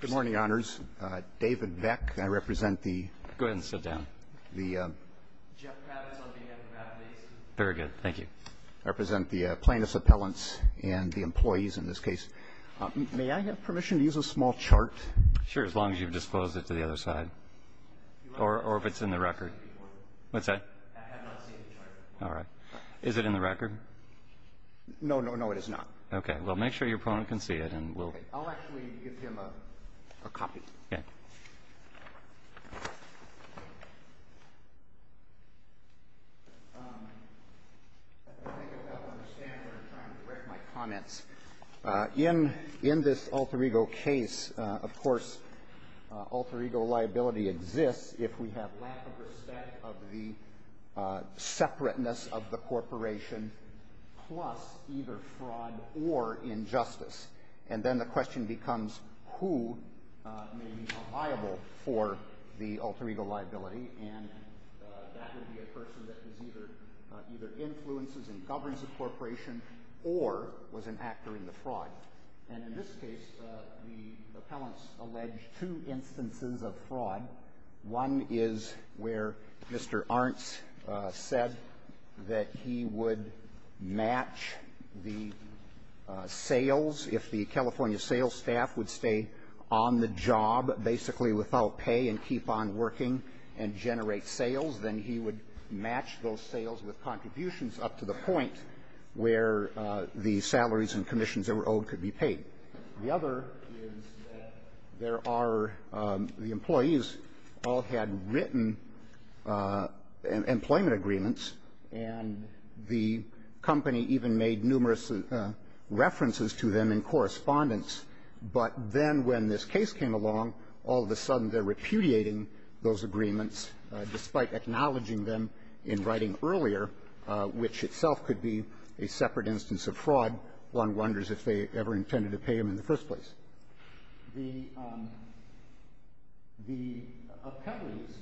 Good morning, Honors. David Beck, I represent the plaintiffs' appellants and the employees in this case. May I have permission to use a small chart? Sure, as long as you've disclosed it to the other side. Or if it's in the record. What's that? I have not seen the chart. All right. Is it in the record? No, no, no, it is not. Okay. Well, make sure your opponent can see it. Okay. I'll actually give him a copy. Okay. I think I now understand what you're trying to direct my comments. In this alter ego case, of course, alter ego liability exists if we have lack of respect of the separateness of the corporation plus either fraud or injustice. And then the question becomes who may be liable for the alter ego liability. And that would be a person that either influences and governs the corporation or was an actor in the fraud. And in this case, the appellants allege two instances of fraud. One is where Mr. Arntz said that he would match the sales if the California sales staff would stay on the job basically without pay and keep on working and generate sales, then he would match those sales with contributions up to the point where the salaries and commissions that were owed could be paid. The other is that there are the employees all had written employment agreements, and the company even made numerous references to them in correspondence. But then when this case came along, all of a sudden they're repudiating those agreements despite acknowledging them in writing earlier, which itself could be a separate instance of fraud. One wonders if they ever intended to pay him in the first place. The appellees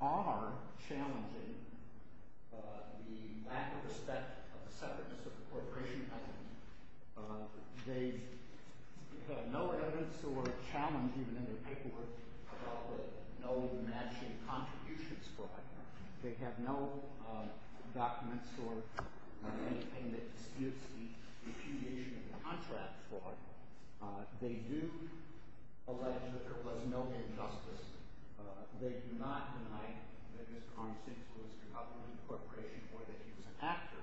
are challenging the lack of respect of the separateness of the corporation. They have no evidence or challenge even in their paperwork about the no matching contributions fraud. They have no documents or anything that disputes the repudiation of the contract fraud. They do allege that there was no injustice. They do not deny that Mr. Arntz influenced the government corporation or that he was an actor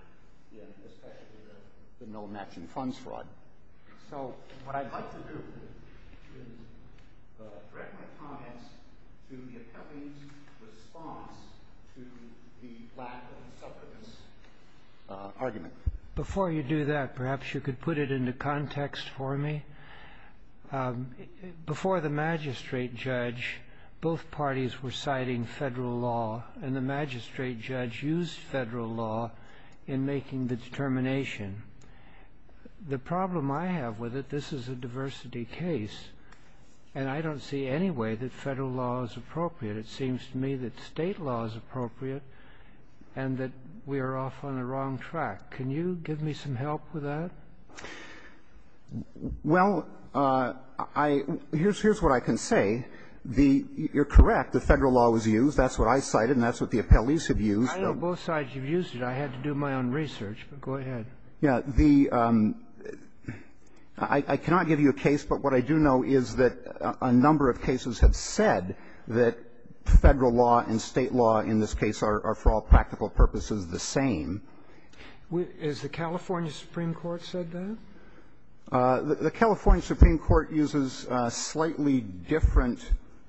in especially the no matching funds fraud. So what I'd like to do is direct my comments to the appellee's response to the lack of separateness argument. Before you do that, perhaps you could put it into context for me. Before the magistrate judge, both parties were citing federal law, and the magistrate judge used federal law in making the determination. The problem I have with it, this is a diversity case, and I don't see any way that federal law is appropriate. It seems to me that State law is appropriate and that we are off on the wrong track. Can you give me some help with that? Well, I – here's what I can say. The – you're correct. The federal law was used. That's what I cited, and that's what the appellees have used. I know both sides have used it. I had to do my own research. But go ahead. Yeah. The – I cannot give you a case, but what I do know is that a number of cases have said that federal law and State law in this case are, for all practical purposes, the same. Is the California Supreme Court said that? The California Supreme Court uses a slightly different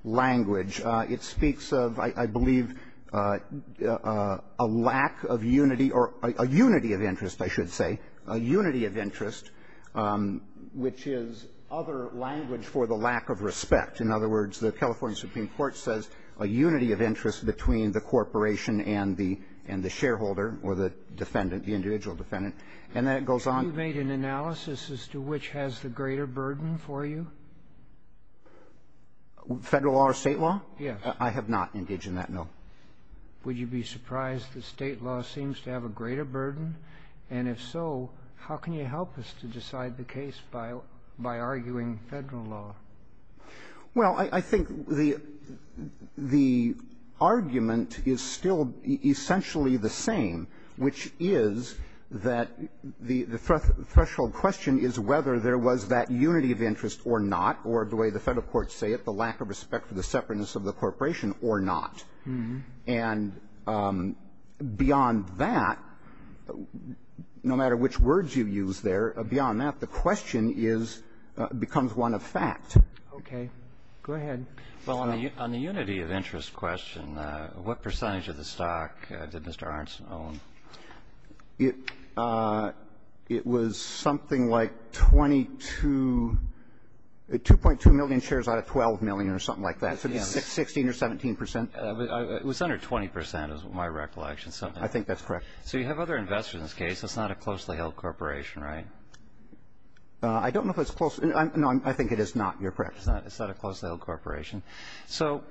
language. It speaks of, I believe, a lack of unity or a unity of interest, I should say, a unity of interest, which is other language for the lack of respect. In other words, the California Supreme Court says a unity of interest between the corporation and the – and the shareholder or the defendant, the individual defendant, and then it goes on. You made an analysis as to which has the greater burden for you? Federal law or State law? Yes. I have not engaged in that, no. Would you be surprised that State law seems to have a greater burden? And if so, how can you help us to decide the case by – by arguing Federal law? Well, I think the – the argument is still essentially the same, which is that the question is whether there was that unity of interest or not, or the way the Federal courts say it, the lack of respect for the separateness of the corporation or not. And beyond that, no matter which words you use there, beyond that, the question is – becomes one of fact. Okay. Go ahead. Well, on the unity of interest question, what percentage of the stock did Mr. Arntz own? It – it was something like 22 – 2.2 million shares out of 12 million or something like that. So 16 or 17 percent. It was under 20 percent is my recollection. I think that's correct. So you have other investors in this case. It's not a closely held corporation, right? I don't know if it's close – no, I think it is not. You're correct. It's not a closely held corporation. So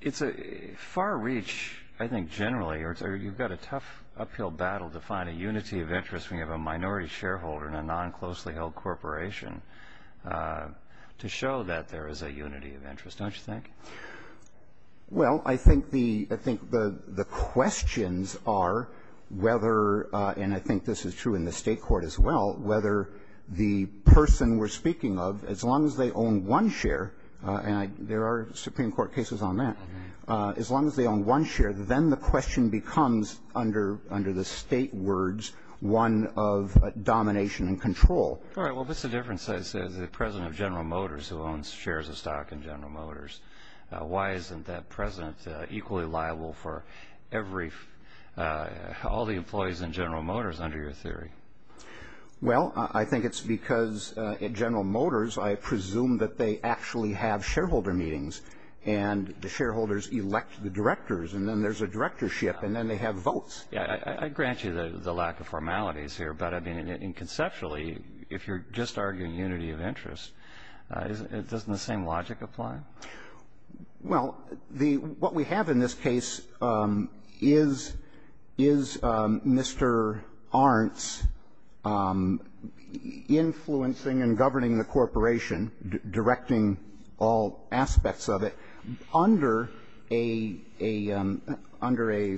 it's a far reach, I think, generally, or you've got a tough uphill battle to find a unity of interest when you have a minority shareholder in a non-closely held corporation to show that there is a unity of interest, don't you think? Well, I think the – I think the questions are whether – and I think this is true in the State court as well – whether the person we're speaking of, as long as they own one share – and there are Supreme Court cases on that – as long as they own one share, then the question becomes, under the State words, one of domination and control. All right. Well, what's the difference, say, the President of General Motors who owns shares of stock in General Motors? Why isn't that President equally liable for every – all the employees in General Motors, under your theory? Well, I think it's because at General Motors, I presume that they actually have shareholder meetings, and the shareholders elect the directors, and then there's a directorship, and then they have votes. Yeah. I grant you the lack of formalities here, but, I mean, and conceptually, if you're just arguing unity of interest, doesn't the same logic apply? Well, the – what we have in this case is Mr. Arntz influencing and governing the corporation, directing all aspects of it, under a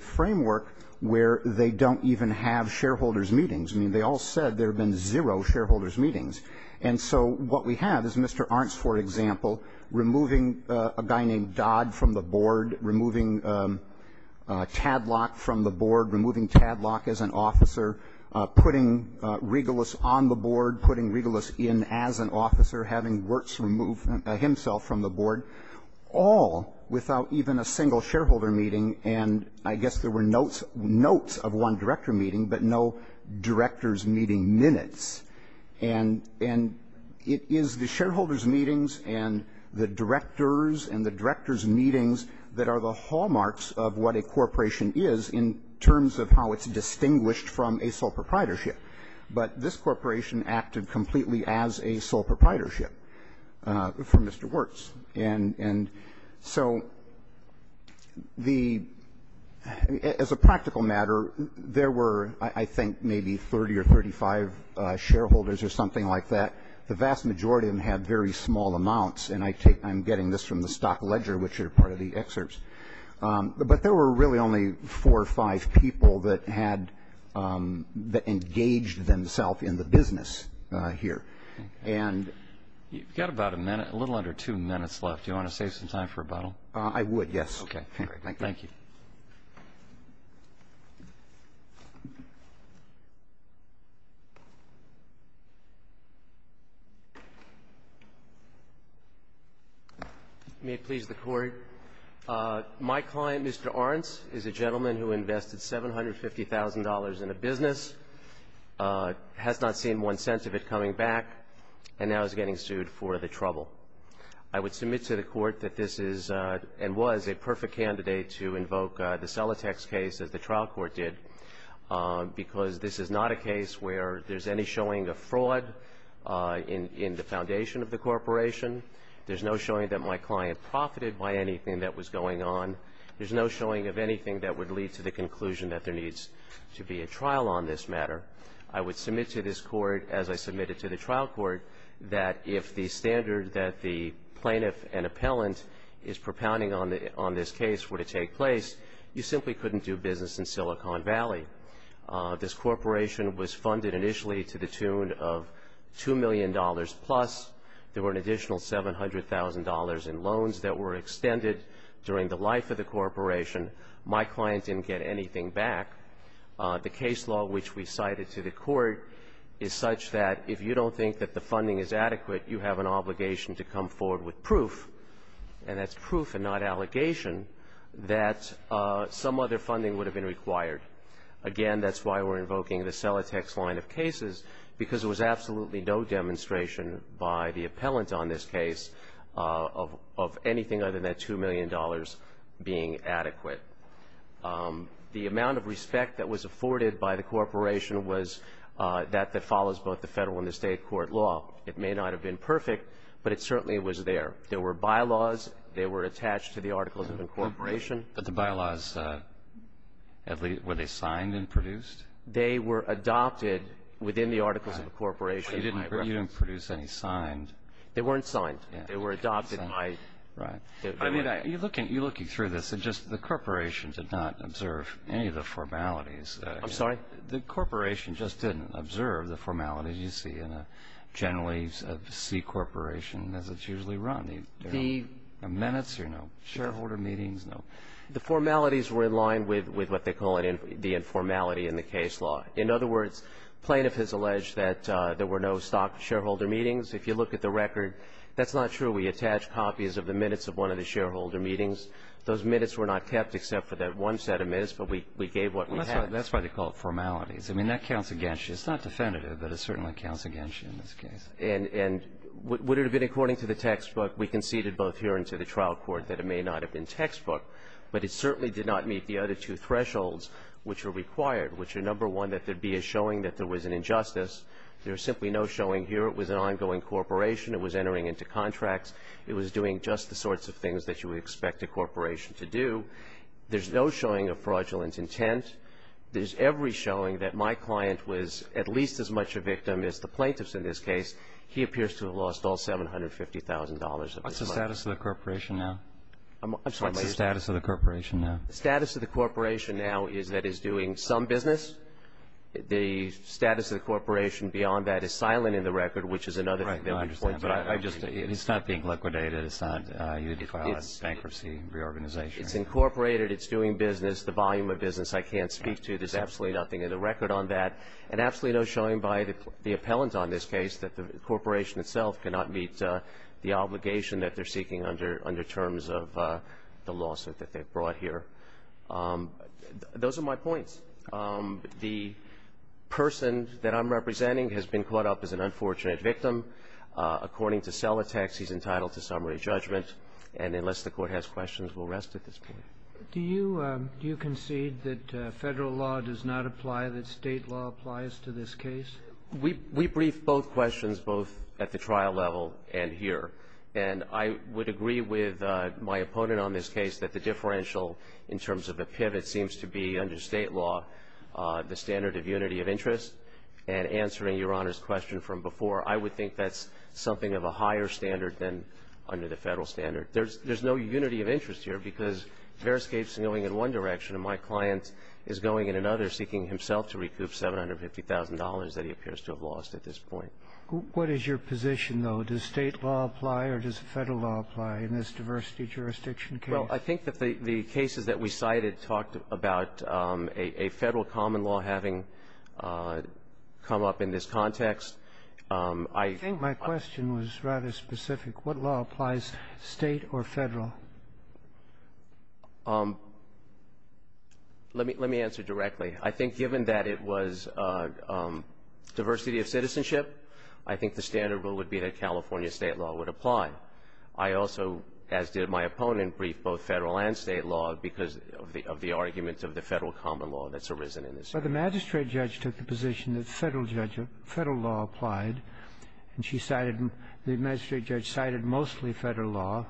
framework where they don't even have shareholders meetings. I mean, they all said there have been zero shareholders meetings. And so what we have is Mr. Arntz, for example, removing a guy named Dodd from the board, removing Tadlock from the board, removing Tadlock as an officer, putting Regalus on the board, putting Regalus in as an officer, having Wirtz remove himself from the board, all without even a single shareholder meeting, and I guess there were notes of one director meeting, but no directors meeting minutes. And it is the shareholders meetings and the directors and the directors meetings that are the hallmarks of what a corporation is in terms of how it's distinguished from a sole proprietorship. But this corporation acted completely as a sole proprietorship for Mr. Wirtz. And so the – as a practical matter, there were, I think, maybe 30 or 35 shareholders or something like that. The vast majority of them had very small amounts, and I take – I'm getting this from the stock ledger, which are part of the excerpts. But there were really only four or five people that had – that engaged themselves in the business here. And – You've got about a minute – a little under two minutes left. Do you want to save some time for rebuttal? I would, yes. Okay. Thank you. Thank you. Thank you. May it please the Court. My client, Mr. Arntz, is a gentleman who invested $750,000 in a business, has not seen one cent of it coming back, and now is getting sued for the trouble. I would submit to the Court that this is – and was – a perfect candidate to invoke the Celotex case, as the trial court did, because this is not a case where there's any showing of fraud in the foundation of the corporation. There's no showing that my client profited by anything that was going on. There's no showing of anything that would lead to the conclusion that there needs to be a trial on this matter. I would submit to this Court, as I submitted to the trial court, that if the standard that the plaintiff and appellant is propounding on this case were to take place, you simply couldn't do business in Silicon Valley. This corporation was funded initially to the tune of $2 million-plus. There were an additional $700,000 in loans that were extended during the life of the corporation. My client didn't get anything back. The case law which we cited to the Court is such that if you don't think that the funding is adequate, you have an obligation to come forward with proof, and that's proof and not allegation, that some other funding would have been required. Again, that's why we're invoking the Celotex line of cases, because there was absolutely no demonstration by the appellant on this case of anything other than that $2 million being adequate. The amount of respect that was afforded by the corporation was that that follows both the federal and the state court law. It may not have been perfect, but it certainly was there. There were bylaws. They were attached to the Articles of Incorporation. But the bylaws, were they signed and produced? They were adopted within the Articles of Incorporation. You didn't produce any signed? They weren't signed. They were adopted by... You're looking through this, and just the corporation did not observe any of the formalities. I'm sorry? The corporation just didn't observe the formalities you see in a generally C corporation as it's usually run. The minutes or no? Shareholder meetings, no. The formalities were in line with what they call the informality in the case law. In other words, plaintiff has alleged that there were no stock shareholder meetings. If you look at the record, that's not true. We attached copies of the minutes of one of the shareholder meetings. Those minutes were not kept except for that one set of minutes, but we gave what we had. That's why they call it formalities. I mean, that counts against you. It's not definitive, but it certainly counts against you in this case. And would it have been according to the textbook? We conceded both here and to the trial court that it may not have been textbook, but it certainly did not meet the other two thresholds which are required, which are, number one, that there be a showing that there was an injustice. There's simply no showing here it was an ongoing corporation. It was entering into contracts. It was doing just the sorts of things that you would expect a corporation to do. There's no showing of fraudulent intent. There's every showing that my client was at least as much a victim as the plaintiffs in this case. He appears to have lost all $750,000 of his money. What's the status of the corporation now? I'm sorry. What's the status of the corporation now? The status of the corporation now is that it's doing some business. The status of the corporation beyond that is silent in the record, which is another thing. Right. Well, I understand. But I just don't. It's not being liquidated. It's not a bankruptcy reorganization. It's incorporated. It's doing business. The volume of business I can't speak to. There's absolutely nothing in the record on that. And absolutely no showing by the appellant on this case that the corporation itself cannot meet the obligation that they're seeking under terms of the lawsuit that they've brought here. Those are my points. The person that I'm representing has been caught up as an unfortunate victim. According to sell attacks, he's entitled to summary judgment. And unless the Court has questions, we'll rest at this point. Do you concede that Federal law does not apply, that State law applies to this case? We briefed both questions, both at the trial level and here. And I would agree with my opponent on this case that the differential in terms of a pivot seems to be under State law the standard of unity of interest. And answering Your Honor's question from before, I would think that's something of a higher standard than under the Federal standard. There's no unity of interest here because Veriscape's going in one direction and my client is going in another, seeking himself to recoup $750,000 that he appears to have lost at this point. What is your position, though? Does State law apply or does Federal law apply in this diversity jurisdiction case? Well, I think that the cases that we cited talked about a Federal common law having come up in this context. I think my question was rather specific. What law applies, State or Federal? Let me answer directly. I think given that it was diversity of citizenship, I think the standard rule would be that California State law would apply. I also, as did my opponent, briefed both Federal and State law because of the argument of the Federal common law that's arisen in this case. Well, the magistrate judge took the position that Federal law applied, and she cited the magistrate judge cited mostly Federal law.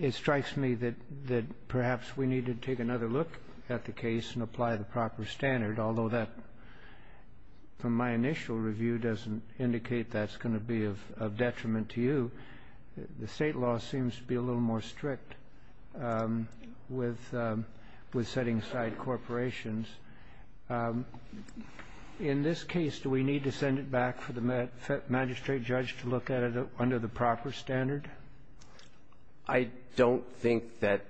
It strikes me that perhaps we need to take another look at the case and apply the proper standard, although that, from my initial review, doesn't indicate that's going to be of detriment to you. The State law seems to be a little more strict with setting aside corporations. In this case, do we need to send it back for the magistrate judge to look at it under the proper standard? I don't think that,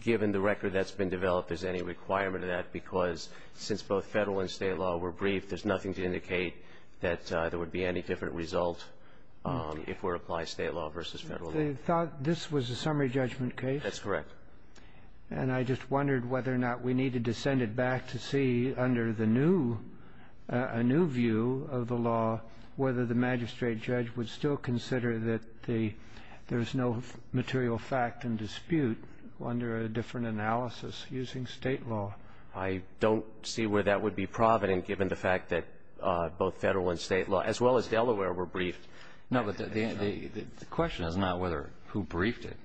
given the record that's been developed, there's any requirement of that, because since both Federal and State law were briefed, there's nothing to indicate that there would be any different result if it were to apply State law versus Federal law. They thought this was a summary judgment case? That's correct. And I just wondered whether or not we needed to send it back to see under the new view of the law whether the magistrate judge would still consider that there's no material fact and dispute under a different analysis using State law. I don't see where that would be provident, given the fact that both Federal and State law, as well as Delaware, were briefed. No, but the question is not whether who briefed it.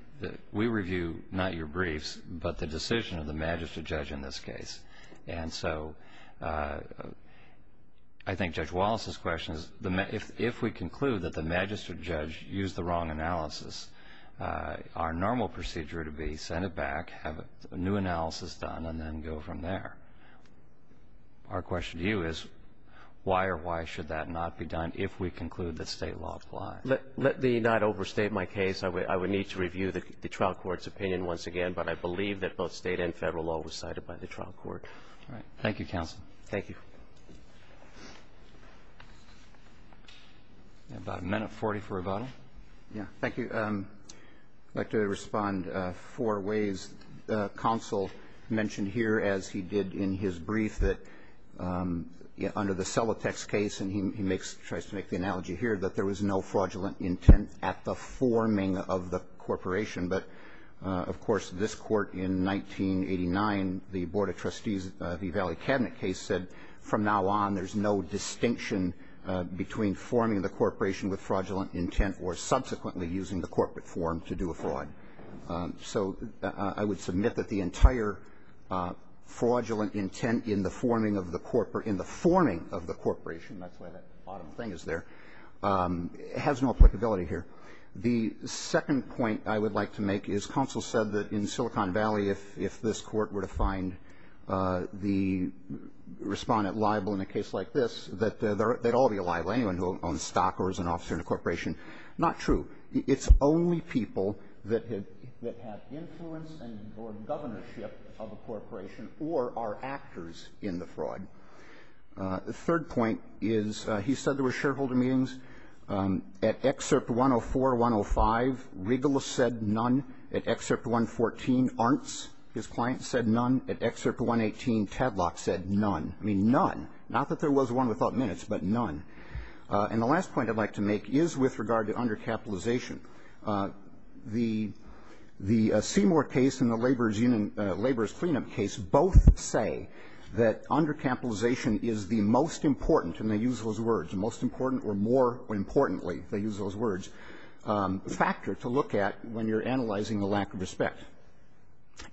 We review not your briefs, but the decision of the magistrate judge in this case. And so I think Judge Wallace's question is, if we conclude that the magistrate judge used the wrong analysis, our normal procedure would be send it back, have a new analysis done, and then go from there. Our question to you is, why or why should that not be done if we conclude that State law applies? Let me not overstate my case. I would need to review the trial court's opinion once again, but I believe that both State and Federal law was cited by the trial court. All right. Thank you, counsel. Thank you. About a minute 40 for rebuttal. Yeah. Thank you. I'd like to respond four ways. Counsel mentioned here, as he did in his brief, that under the Selatex case, and he makes the analogy here, that there was no fraudulent intent at the forming of the corporation. But, of course, this Court in 1989, the Board of Trustees, the Valley Cabinet case, said from now on there's no distinction between forming the corporation with fraudulent intent or subsequently using the corporate form to do a fraud. So I would submit that the entire fraudulent intent in the forming of the corporation that's why that bottom thing is there, has no applicability here. The second point I would like to make is counsel said that in Silicon Valley, if this Court were to find the respondent liable in a case like this, that they'd all be liable, anyone who owns stock or is an officer in a corporation. Not true. It's only people that have influence or governorship of a corporation or are actors in the fraud. The third point is he said there were shareholder meetings. At Excerpt 104, 105, Regulus said none. At Excerpt 114, Arntz, his client, said none. At Excerpt 118, Tadlock said none. I mean, none. Not that there was one without minutes, but none. And the last point I'd like to make is with regard to undercapitalization. The Seymour case and the Laborers' Cleanup case both say that undercapitalization is the most important, and they use those words, the most important or more importantly, they use those words, factor to look at when you're analyzing the lack of respect.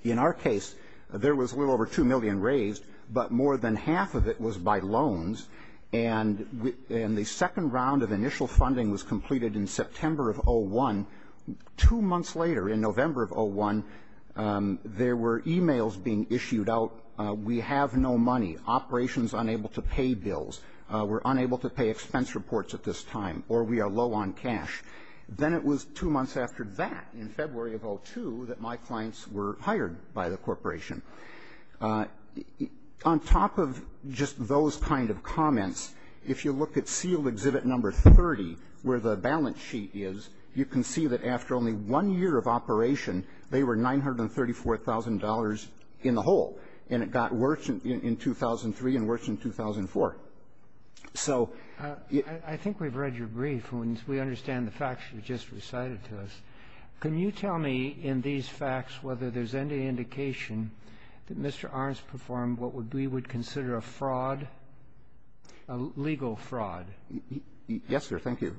In our case, there was a little over $2 million raised, but more than half of it was by loans, and the second round of initial funding was completed in September of 2001. Two months later, in November of 2001, there were e-mails being issued out, we have no money, operations unable to pay bills, we're unable to pay expense reports at this time, or we are low on cash. Then it was two months after that, in February of 2002, that my clients were hired by the corporation. On top of just those kind of comments, if you look at sealed exhibit number 30, where the balance sheet is, you can see that after only one year of operation, they were $934,000 in the hole, and it got worse in 2003 and worse in 2004. So you -- I think we've read your brief, and we understand the facts you just recited to us. Can you tell me, in these facts, whether there's any indication that Mr. Armes performed what we would consider a fraud, a legal fraud? Yes, sir. Thank you.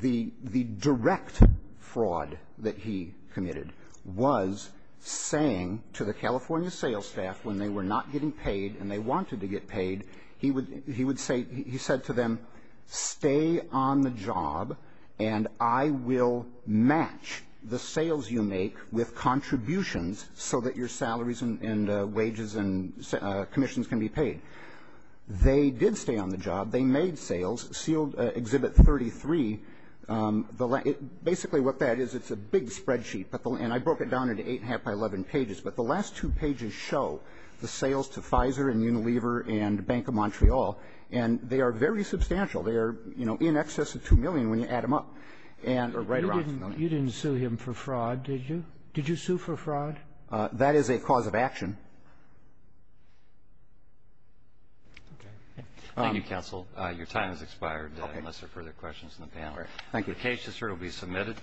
The direct fraud that he committed was saying to the California sales staff when they were not getting paid and they wanted to get paid, he would say to them, stay on the job, and I will match the sales you make with contributions so that your salaries and wages and commissions can be paid. They did stay on the job. They made sales. Sealed exhibit 33, basically what that is, it's a big spreadsheet, and I broke it down into eight and a half by 11 pages, but the last two pages show the sales to Pfizer and Unilever and Bank of Montreal, and they are very substantial. They are, you know, in excess of $2 million when you add them up and are right around $2 million. You didn't sue him for fraud, did you? Did you sue for fraud? That is a cause of action. Okay. Thank you, counsel. Your time has expired unless there are further questions from the panel. Thank you. The case, sir, will be submitted.